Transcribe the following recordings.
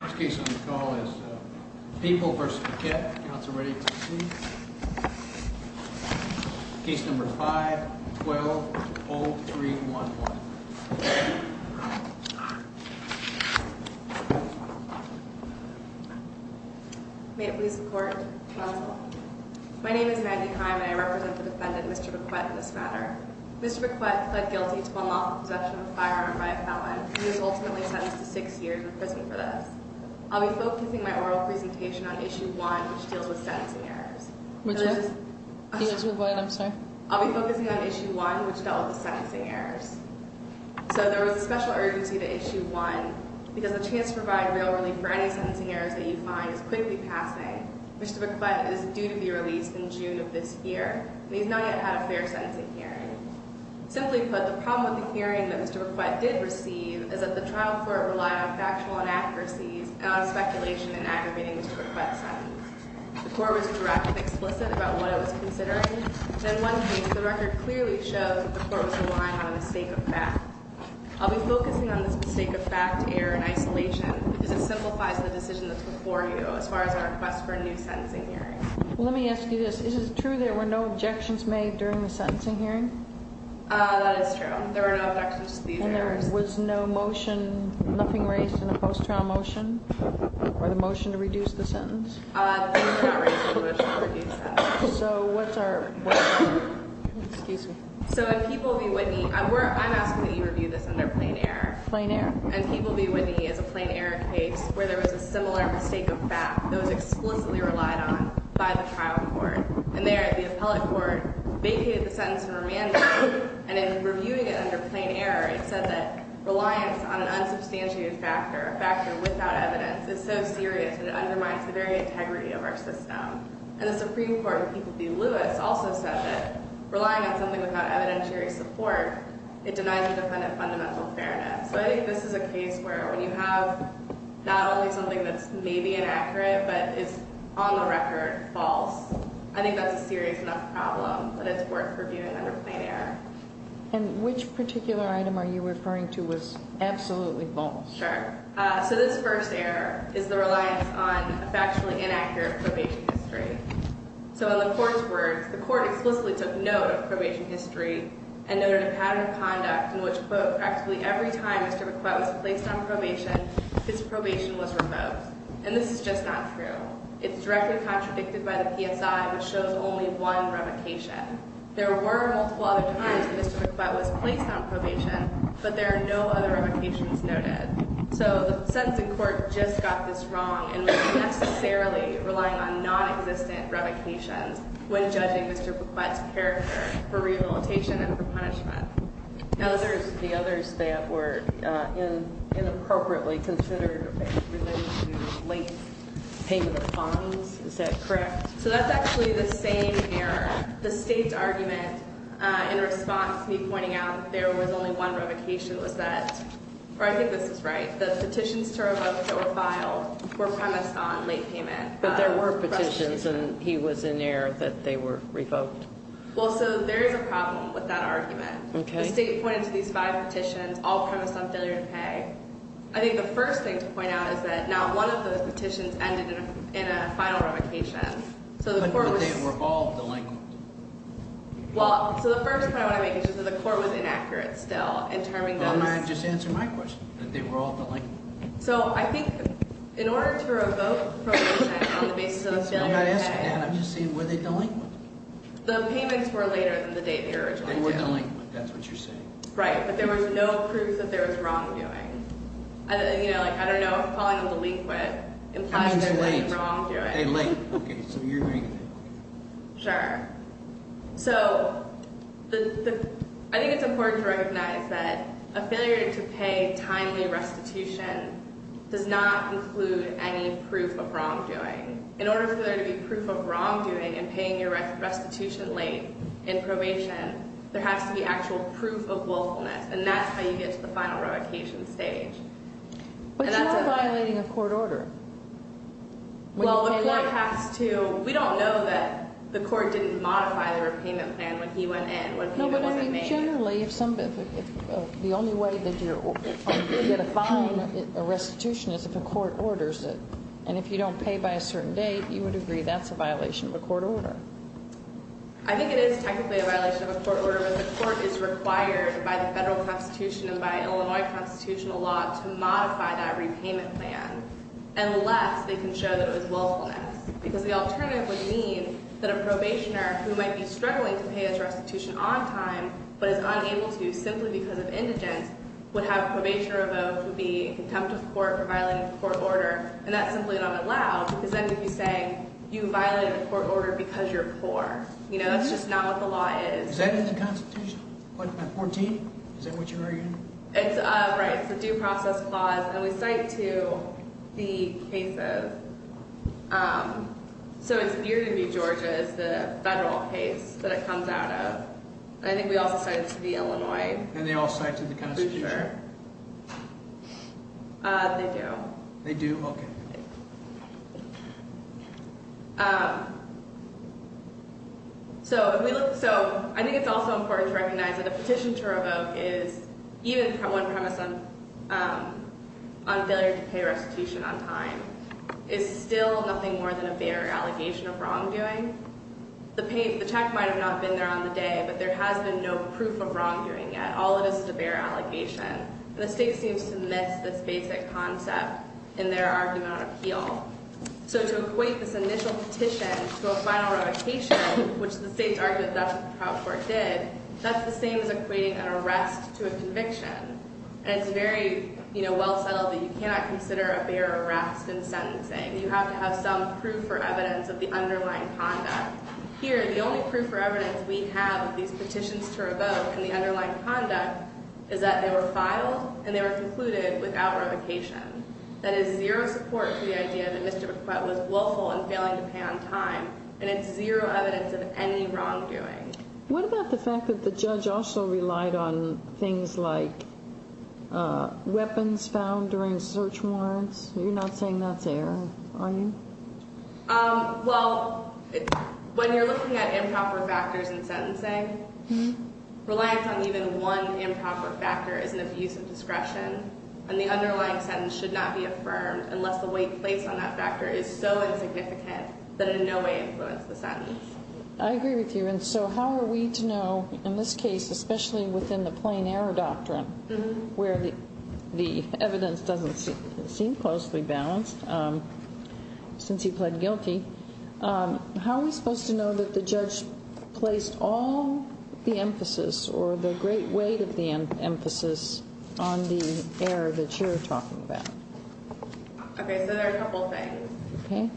First case on the call is Papal v. Bequette. Council ready to proceed? Case number 5-12-0311. May it please the court. Counsel. My name is Maggie Heim and I represent the defendant, Mr. Bequette, in this matter. Mr. Bequette pled guilty to unlawful possession of a firearm by a felon. He was ultimately sentenced to 6 years in prison for this. I'll be focusing my oral presentation on Issue 1, which deals with sentencing errors. Which one? The issue of what, I'm sorry? I'll be focusing on Issue 1, which dealt with the sentencing errors. So there was a special urgency to Issue 1 because the chance to provide real relief for any sentencing errors that you find is quickly passing. Mr. Bequette is due to be released in June of this year, and he has not yet had a fair sentencing hearing. Simply put, the problem with the hearing that Mr. Bequette did receive is that the trial court relied on factual inaccuracies and on speculation in aggravating Mr. Bequette's sentence. The court was direct and explicit about what it was considering, and in one case the record clearly shows that the court was relying on a mistake of fact. I'll be focusing on this mistake of fact error in isolation because it simplifies the decision that's before you as far as a request for a new sentencing hearing. Let me ask you this. Is it true there were no objections made during the sentencing hearing? Uh, that is true. There were no objections to these errors. And there was no motion, nothing raised in a post-trial motion, or the motion to reduce the sentence? Uh, the motion was not raised in the motion to reduce that. So what's our, what happened? Excuse me. So in People v. Whitney, I'm asking that you review this in their plain error. Plain error. In People v. Whitney is a plain error case where there was a similar mistake of fact that was explicitly relied on by the trial court. And there the appellate court vacated the sentence from remand hearing, and in reviewing it under plain error, it said that reliance on an unsubstantiated factor, a factor without evidence, is so serious that it undermines the very integrity of our system. And the Supreme Court in People v. Lewis also said that relying on something without evidentiary support, it denies the defendant fundamental fairness. So I think this is a case where when you have not only something that's maybe inaccurate, but is on the record false, I think that's a serious enough problem that it's worth reviewing under plain error. And which particular item are you referring to was absolutely false? Sure. Uh, so this first error is the reliance on a factually inaccurate probation history. So in the court's words, the court explicitly took note of probation history and noted a pattern of conduct in which, quote, practically every time Mr. McButt was placed on probation, his probation was revoked. And this is just not true. It's directly contradicted by the PSI, which shows only one revocation. There were multiple other times that Mr. McButt was placed on probation, but there are no other revocations noted. So the sentencing court just got this wrong and was necessarily relying on nonexistent revocations when judging Mr. McButt's character for rehabilitation and for punishment. Now, the others that were inappropriately considered related to late payment of fines, is that correct? So that's actually the same error. The state's argument in response to me pointing out that there was only one revocation was that, or I think this is right. The petitions to revoke that were filed were premised on late payment. But there were petitions and he was in error that they were revoked. Well, so there is a problem with that argument. The state pointed to these five petitions, all premised on failure to pay. I think the first thing to point out is that not one of those petitions ended in a final revocation. But they were all delinquent. Well, so the first point I want to make is that the court was inaccurate still in terming those. Why don't I just answer my question, that they were all delinquent. So I think in order to revoke probation on the basis of a failure to pay. I'm not asking that, I'm just saying were they delinquent? The payments were later than the date they were originally due. They were delinquent, that's what you're saying. Right, but there was no proof that there was wrongdoing. I don't know if calling them delinquent implies there was wrongdoing. They were late. Sure. So, I think it's important to recognize that a failure to pay timely restitution does not include any proof of wrongdoing. In order for there to be proof of wrongdoing in paying your restitution late in probation, there has to be actual proof of willfulness. And that's how you get to the final revocation stage. But you're not violating a court order. Well, the court has to. We don't know that the court didn't modify the repayment plan when he went in. No, but I mean generally, the only way that you're going to get a fine for restitution is if a court orders it. And if you don't pay by a certain date, you would agree that's a violation of a court order. I think it is technically a violation of a court order. The court is required by the federal constitution and by Illinois constitutional law to modify that repayment plan. Unless they can show that it was willfulness. Because the alternative would mean that a probationer who might be struggling to pay his restitution on time, but is unable to simply because of indigence, would have a probationer revoked and be contempt of court for violating a court order. And that's simply not allowed. Because then you'd be saying you violated a court order because you're poor. You know, that's just not what the law is. Is that in the constitution? 14? Is that what you're arguing? Right. It's a due process clause. And we cite to the cases. So it's near to me, Georgia, is the federal case that it comes out of. I think we also cite it to the Illinois. And they all cite to the constitution? For sure. They do. They do? Okay. So I think it's also important to recognize that a petition to revoke is even one premise on failure to pay restitution on time, is still nothing more than a bare allegation of wrongdoing. The check might have not been there on the day, but there has been no proof of wrongdoing yet. All of this is a bare allegation. And the state seems to miss this basic concept in their argument on appeal. So to equate this initial petition to a final revocation, which the state's argument does what the trial court did, that's the same as equating an arrest to a conviction. And it's very, you know, well settled that you cannot consider a bare arrest in sentencing. You have to have some proof or evidence of the underlying conduct. Here, the only proof or evidence we have of these petitions to revoke and the underlying conduct is that they were filed and they were concluded without revocation. That is zero support for the idea that Mr. McQuade was willful in failing to pay on time. And it's zero evidence of any wrongdoing. What about the fact that the judge also relied on things like weapons found during search warrants? You're not saying that's error, are you? Well, when you're looking at improper factors in sentencing, reliance on even one improper factor is an abuse of discretion, and the underlying sentence should not be affirmed unless the weight placed on that factor is so insignificant that it in no way influences the sentence. I agree with you. And so how are we to know, in this case, especially within the plain error doctrine, where the evidence doesn't seem closely balanced since he pled guilty, how are we supposed to know that the judge placed all the emphasis or the great weight of the emphasis on the error that you're talking about? Okay, so there are a couple of things. Okay.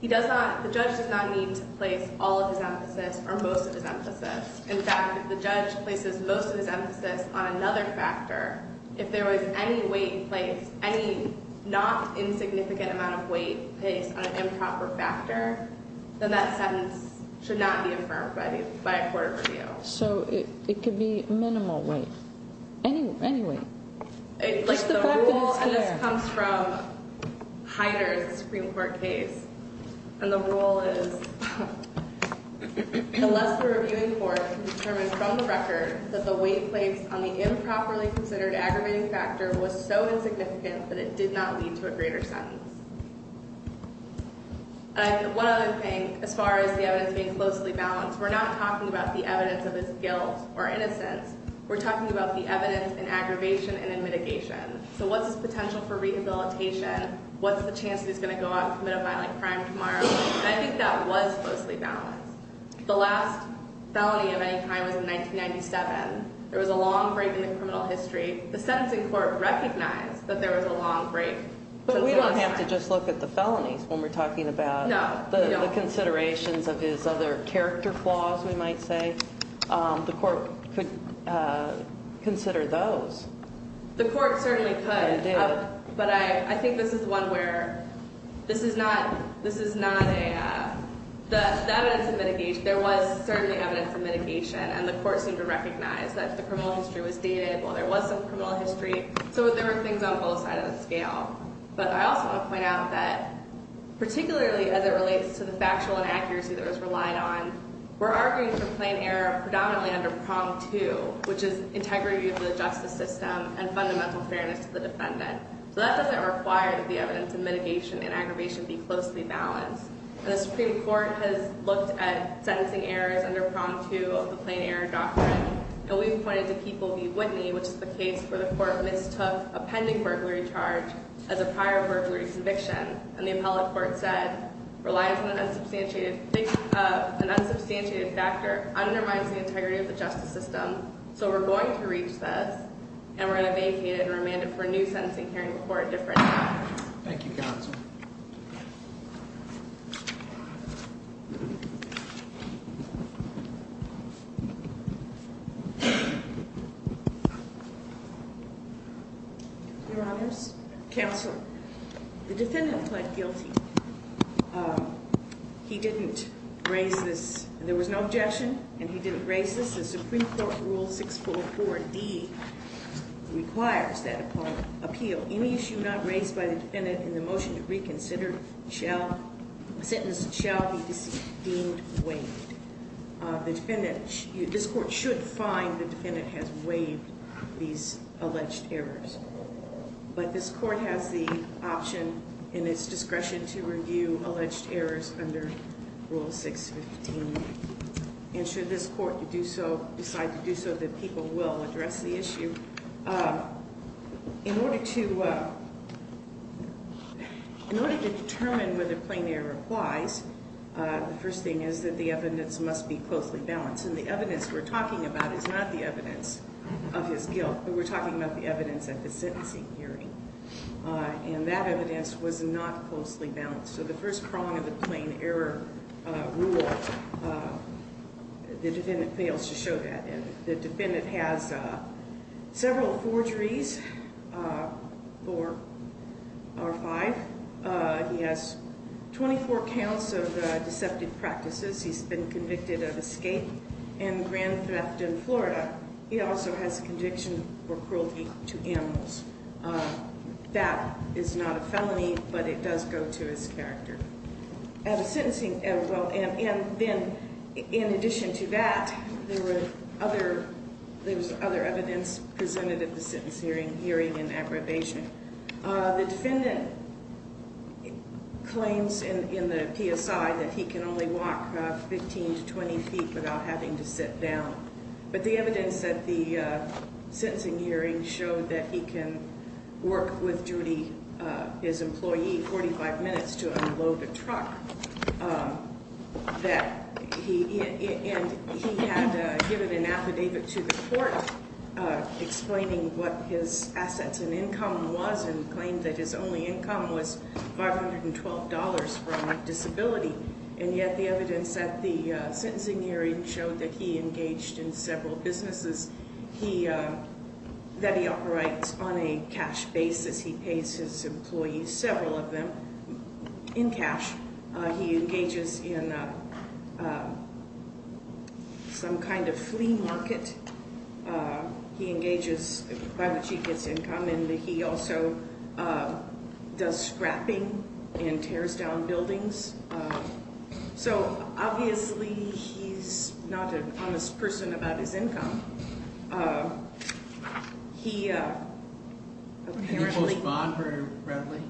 He does not, the judge does not need to place all of his emphasis or most of his emphasis. In fact, the judge places most of his emphasis on another factor. If there was any weight placed, any not insignificant amount of weight placed on an improper factor, then that sentence should not be affirmed by a court of review. So it could be minimal weight, any weight. Just the fact that it's there. The rule comes from Heider's Supreme Court case, and the rule is, unless the reviewing court can determine from the record that the weight placed on the improperly considered aggravating factor was so insignificant that it did not lead to a greater sentence. And one other thing, as far as the evidence being closely balanced, we're not talking about the evidence of his guilt or innocence. We're talking about the evidence in aggravation and in mitigation. So what's his potential for rehabilitation? What's the chance he's going to go out and commit a violent crime tomorrow? And I think that was closely balanced. The last felony of any kind was in 1997. There was a long break in the criminal history. The sentencing court recognized that there was a long break. But we don't have to just look at the felonies when we're talking about the considerations of his other character flaws, we might say. The court could consider those. The court certainly could. It did. But I think this is one where this is not a – the evidence in mitigation, there was certainly evidence in mitigation, and the court seemed to recognize that the criminal history was dated. Well, there was some criminal history. So there were things on both sides of the scale. But I also want to point out that, particularly as it relates to the factual inaccuracy that was relied on, we're arguing for plain error predominantly under prong two, which is integrity of the justice system and fundamental fairness to the defendant. So that doesn't require that the evidence in mitigation and aggravation be closely balanced. The Supreme Court has looked at sentencing errors under prong two of the plain error doctrine, and we've pointed to People v. Whitney, which is the case where the court mistook a pending burglary charge as a prior burglary conviction. And the appellate court said relies on an unsubstantiated factor undermines the integrity of the justice system. So we're going to reach this, and we're going to vacate it and remand it for a new sentencing hearing before a different judge. Thank you, counsel. Your Honors, counsel, the defendant pled guilty. He didn't raise this. There was no objection, and he didn't raise this. The Supreme Court Rule 644D requires that appeal. Any issue not raised by the defendant in the motion to reconsider sentence shall be deemed waived. This court should find the defendant has waived these alleged errors. But this court has the option in its discretion to review alleged errors under Rule 615. And should this court decide to do so, the people will address the issue. In order to determine whether plain error applies, the first thing is that the evidence must be closely balanced. And the evidence we're talking about is not the evidence of his guilt, but we're talking about the evidence at the sentencing hearing. And that evidence was not closely balanced. So the first prong of the plain error rule, the defendant fails to show that. The defendant has several forgeries, four or five. He has 24 counts of deceptive practices. He's been convicted of escape and grand theft in Florida. He also has a conviction for cruelty to animals. That is not a felony, but it does go to his character. At a sentencing, well, and then in addition to that, there was other evidence presented at the sentencing hearing in aggravation. The defendant claims in the PSI that he can only walk 15 to 20 feet without having to sit down. But the evidence at the sentencing hearing showed that he can work with duty, his employee, 45 minutes to unload a truck. And he had given an affidavit to the court explaining what his assets and income was and claimed that his only income was $512 from disability. And yet the evidence at the sentencing hearing showed that he engaged in several businesses, that he operates on a cash basis. He pays his employees, several of them, in cash. He engages in some kind of flea market. He engages by which he gets income, and he also does scrapping and tears down buildings. So obviously he's not an honest person about his income. He apparently- Did he post bond very readily?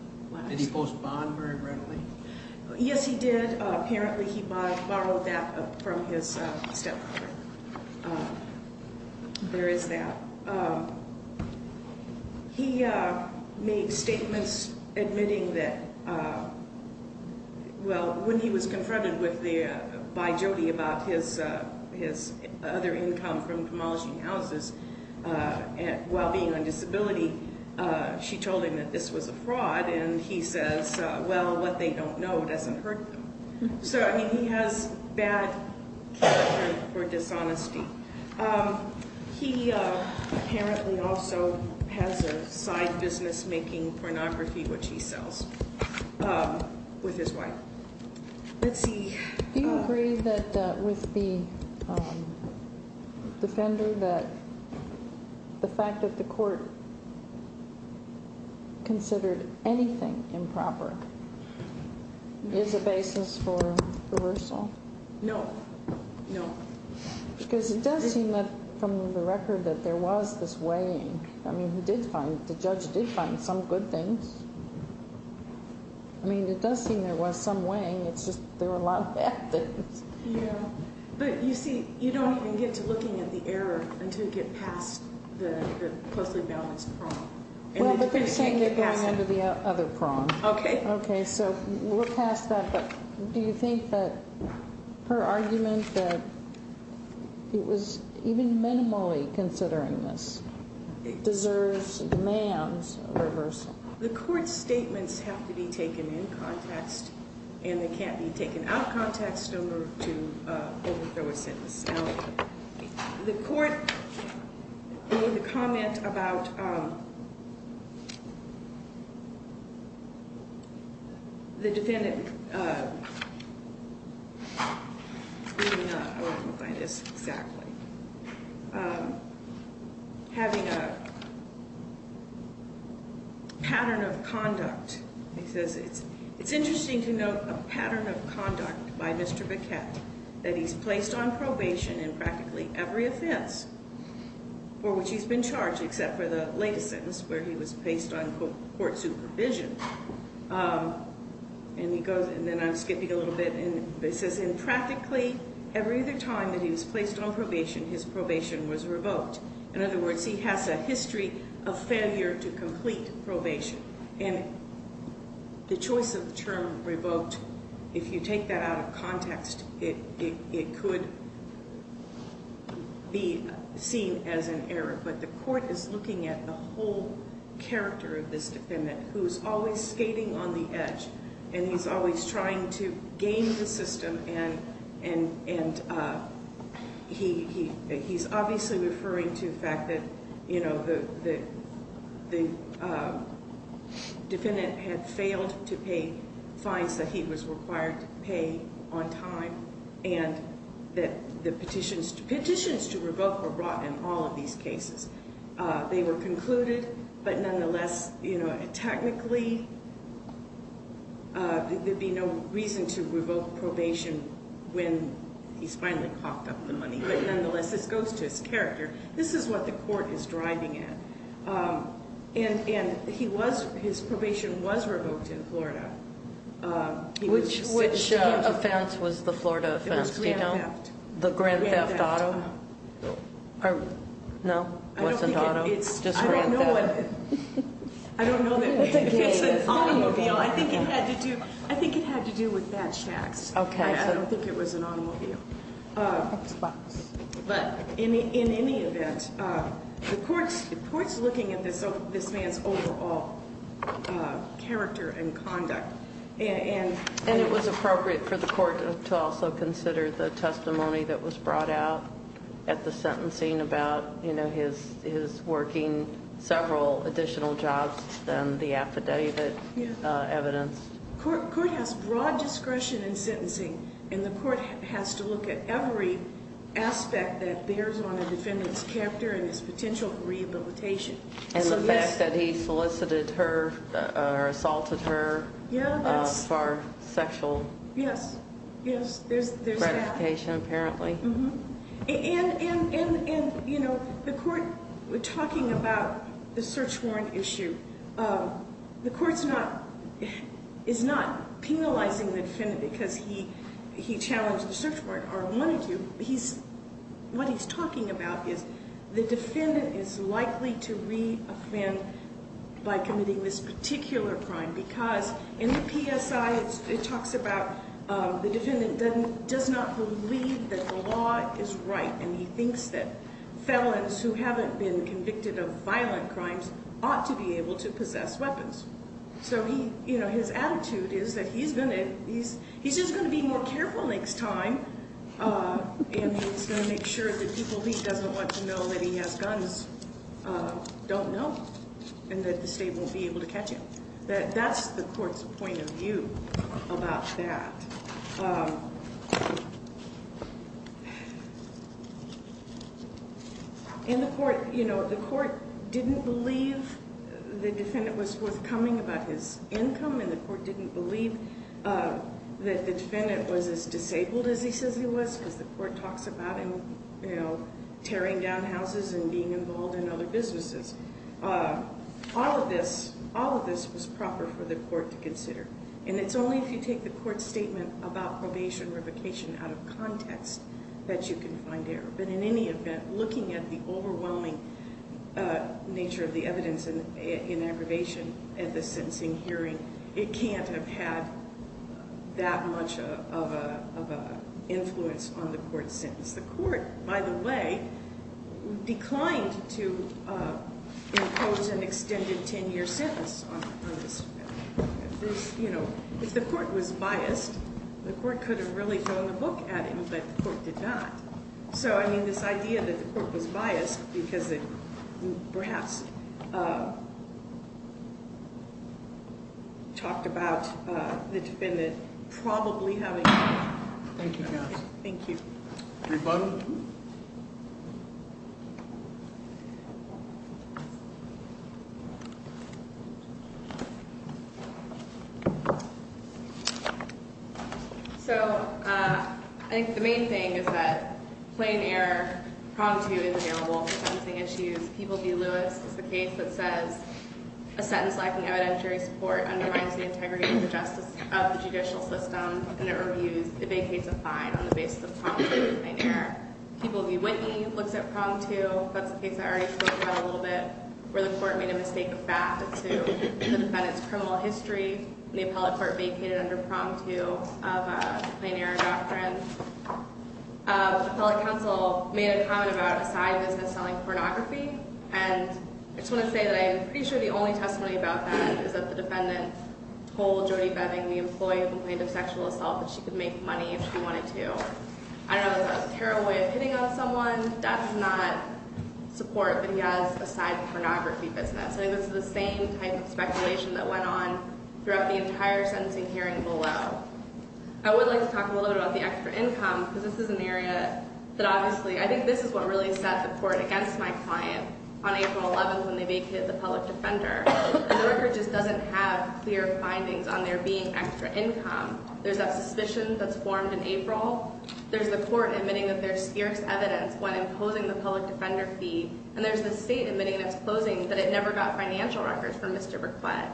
Did he post bond very readily? Yes, he did. Apparently he borrowed that from his stepfather. There is that. He made statements admitting that, well, when he was confronted by Jody about his other income from demolishing houses while being on disability, she told him that this was a fraud, and he says, well, what they don't know doesn't hurt them. So, I mean, he has bad character for dishonesty. He apparently also has a side business making pornography, which he sells, with his wife. Let's see. Do you agree that with the defender that the fact that the court considered anything improper is a basis for reversal? No, no. Because it does seem that from the record that there was this weighing. I mean, he did find, the judge did find some good things. I mean, it does seem there was some weighing. It's just there were a lot of bad things. Yeah. But, you see, you don't even get to looking at the error until you get past the closely balanced prong. Well, but you're saying you're going under the other prong. Okay. Okay, so we're past that, but do you think that her argument that it was even minimally considering this deserves and demands a reversal? The court's statements have to be taken in context, and they can't be taken out of context to overthrow a sentence. The court made a comment about the defendant having a pattern of conduct. It says, it's interesting to note a pattern of conduct by Mr. Baquette that he's placed on probation in practically every offense for which he's been charged, except for the latest sentence where he was placed on court supervision. And he goes, and then I'm skipping a little bit, and it says in practically every other time that he was placed on probation, his probation was revoked. In other words, he has a history of failure to complete probation. And the choice of the term revoked, if you take that out of context, it could be seen as an error. But the court is looking at the whole character of this defendant, who's always skating on the edge, and he's always trying to game the system, and he's obviously referring to the fact that the defendant had failed to pay fines that he was required to pay on time. And that the petitions to revoke were brought in all of these cases. They were concluded, but nonetheless, technically, there'd be no reason to revoke probation when he's finally coughed up the money. But nonetheless, this goes to his character. This is what the court is driving at. And his probation was revoked in Florida. Which offense was the Florida offense, do you know? It was grand theft. The grand theft auto? Grand theft. No? Wasn't auto? Just grand theft? I don't know. I don't know. It's an automobile. I think it had to do with badge tax. OK. I don't think it was an automobile. But in any event, the court's looking at this man's overall character and conduct. And it was appropriate for the court to also consider the testimony that was brought out at the sentencing about his working several additional jobs than the affidavit evidence. The court has broad discretion in sentencing. And the court has to look at every aspect that bears on a defendant's character and his potential for rehabilitation. And the fact that he solicited her or assaulted her for sexual gratification, apparently. And the court, talking about the search warrant issue, the court is not penalizing the defendant because he challenged the search warrant or wanted to. What he's talking about is the defendant is likely to re-offend by committing this particular crime. Because in the PSI, it talks about the defendant does not believe that the law is right. And he thinks that felons who haven't been convicted of violent crimes ought to be able to possess weapons. So his attitude is that he's just going to be more careful next time. And he's going to make sure that people he doesn't want to know that he has guns don't know. And that the state won't be able to catch him. That's the court's point of view about that. And the court didn't believe the defendant was forthcoming about his income. And the court didn't believe that the defendant was as disabled as he says he was. Because the court talks about tearing down houses and being involved in other businesses. All of this was proper for the court to consider. And it's only if you take the court's statement about probation revocation out of context that you can find error. But in any event, looking at the overwhelming nature of the evidence in aggravation at the sentencing hearing, it can't have had that much of an influence on the court's sentence. The court, by the way, declined to impose an extended ten-year sentence on this defendant. If the court was biased, the court could have really thrown a book at him, but the court did not. So I mean this idea that the court was biased because it perhaps talked about the defendant probably having- Thank you, counsel. Thank you. Rebuttal. So I think the main thing is that plain error, pronged to, is available for sentencing issues. People v. Lewis is the case that says a sentence lacking evidentiary support undermines the integrity and the justice of the judicial system. And it vacates a fine on the basis of pronged to and plain error. People v. Whitney looks at pronged to. That's the case I already spoke about a little bit, where the court made a mistake back to the defendant's criminal history. And the appellate court vacated under pronged to of a plain error doctrine. The appellate counsel made a comment about a side business selling pornography. And I just want to say that I'm pretty sure the only testimony about that is that the defendant told Jody Beving, the employee who complained of sexual assault, that she could make money if she wanted to. I don't know if that was a terrible way of hitting on someone. That does not support that he has a side pornography business. I think this is the same type of speculation that went on throughout the entire sentencing hearing below. I would like to talk a little bit about the extra income. Because this is an area that obviously, I think this is what really set the court against my client on April 11th when they vacated the public defender. And the record just doesn't have clear findings on there being extra income. There's that suspicion that's formed in April. There's the court admitting that there's spurious evidence when imposing the public defender fee. And there's the state admitting in its closing that it never got financial records from Mr. Burklett.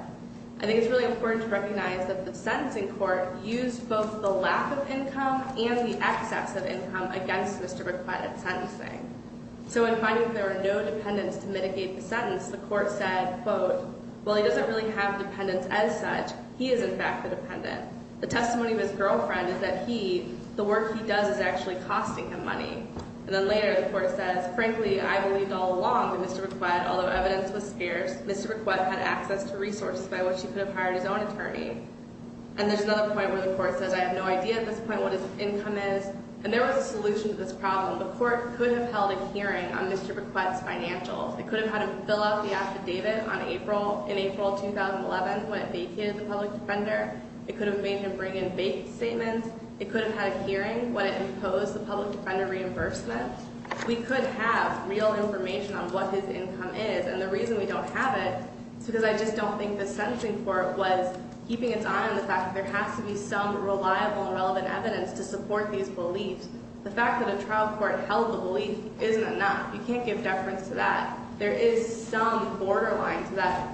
I think it's really important to recognize that the sentencing court used both the lack of income and the excess of income against Mr. Burklett at sentencing. So in finding that there were no dependents to mitigate the sentence, the court said, quote, well, he doesn't really have dependents as such. He is, in fact, the dependent. The testimony of his girlfriend is that he, the work he does is actually costing him money. And then later, the court says, frankly, I believed all along that Mr. Burklett, although evidence was spurious, Mr. Burklett had access to resources by which he could have hired his own attorney. And there's another point where the court says, I have no idea at this point what his income is. And there was a solution to this problem. The court could have held a hearing on Mr. Burklett's financials. It could have had him fill out the affidavit in April 2011 when it vacated the public defender. It could have made him bring in fake statements. It could have had a hearing when it imposed the public defender reimbursement. We could have real information on what his income is. And the reason we don't have it is because I just don't think the sentencing court was keeping its eye on the fact that there has to be some reliable and relevant evidence to support these beliefs. The fact that a trial court held the belief isn't enough. You can't give deference to that. There is some borderline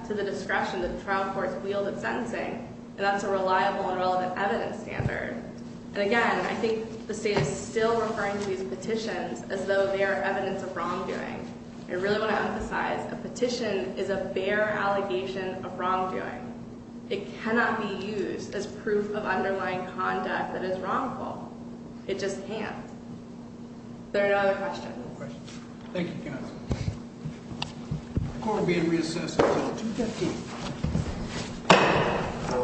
to the discretion that trial courts wield at sentencing. And that's a reliable and relevant evidence standard. And again, I think the state is still referring to these petitions as though they are evidence of wrongdoing. I really want to emphasize, a petition is a bare allegation of wrongdoing. It cannot be used as proof of underlying conduct that is wrongful. It just can't. There are no other questions. Thank you, counsel. The court will be in recess until 2.15.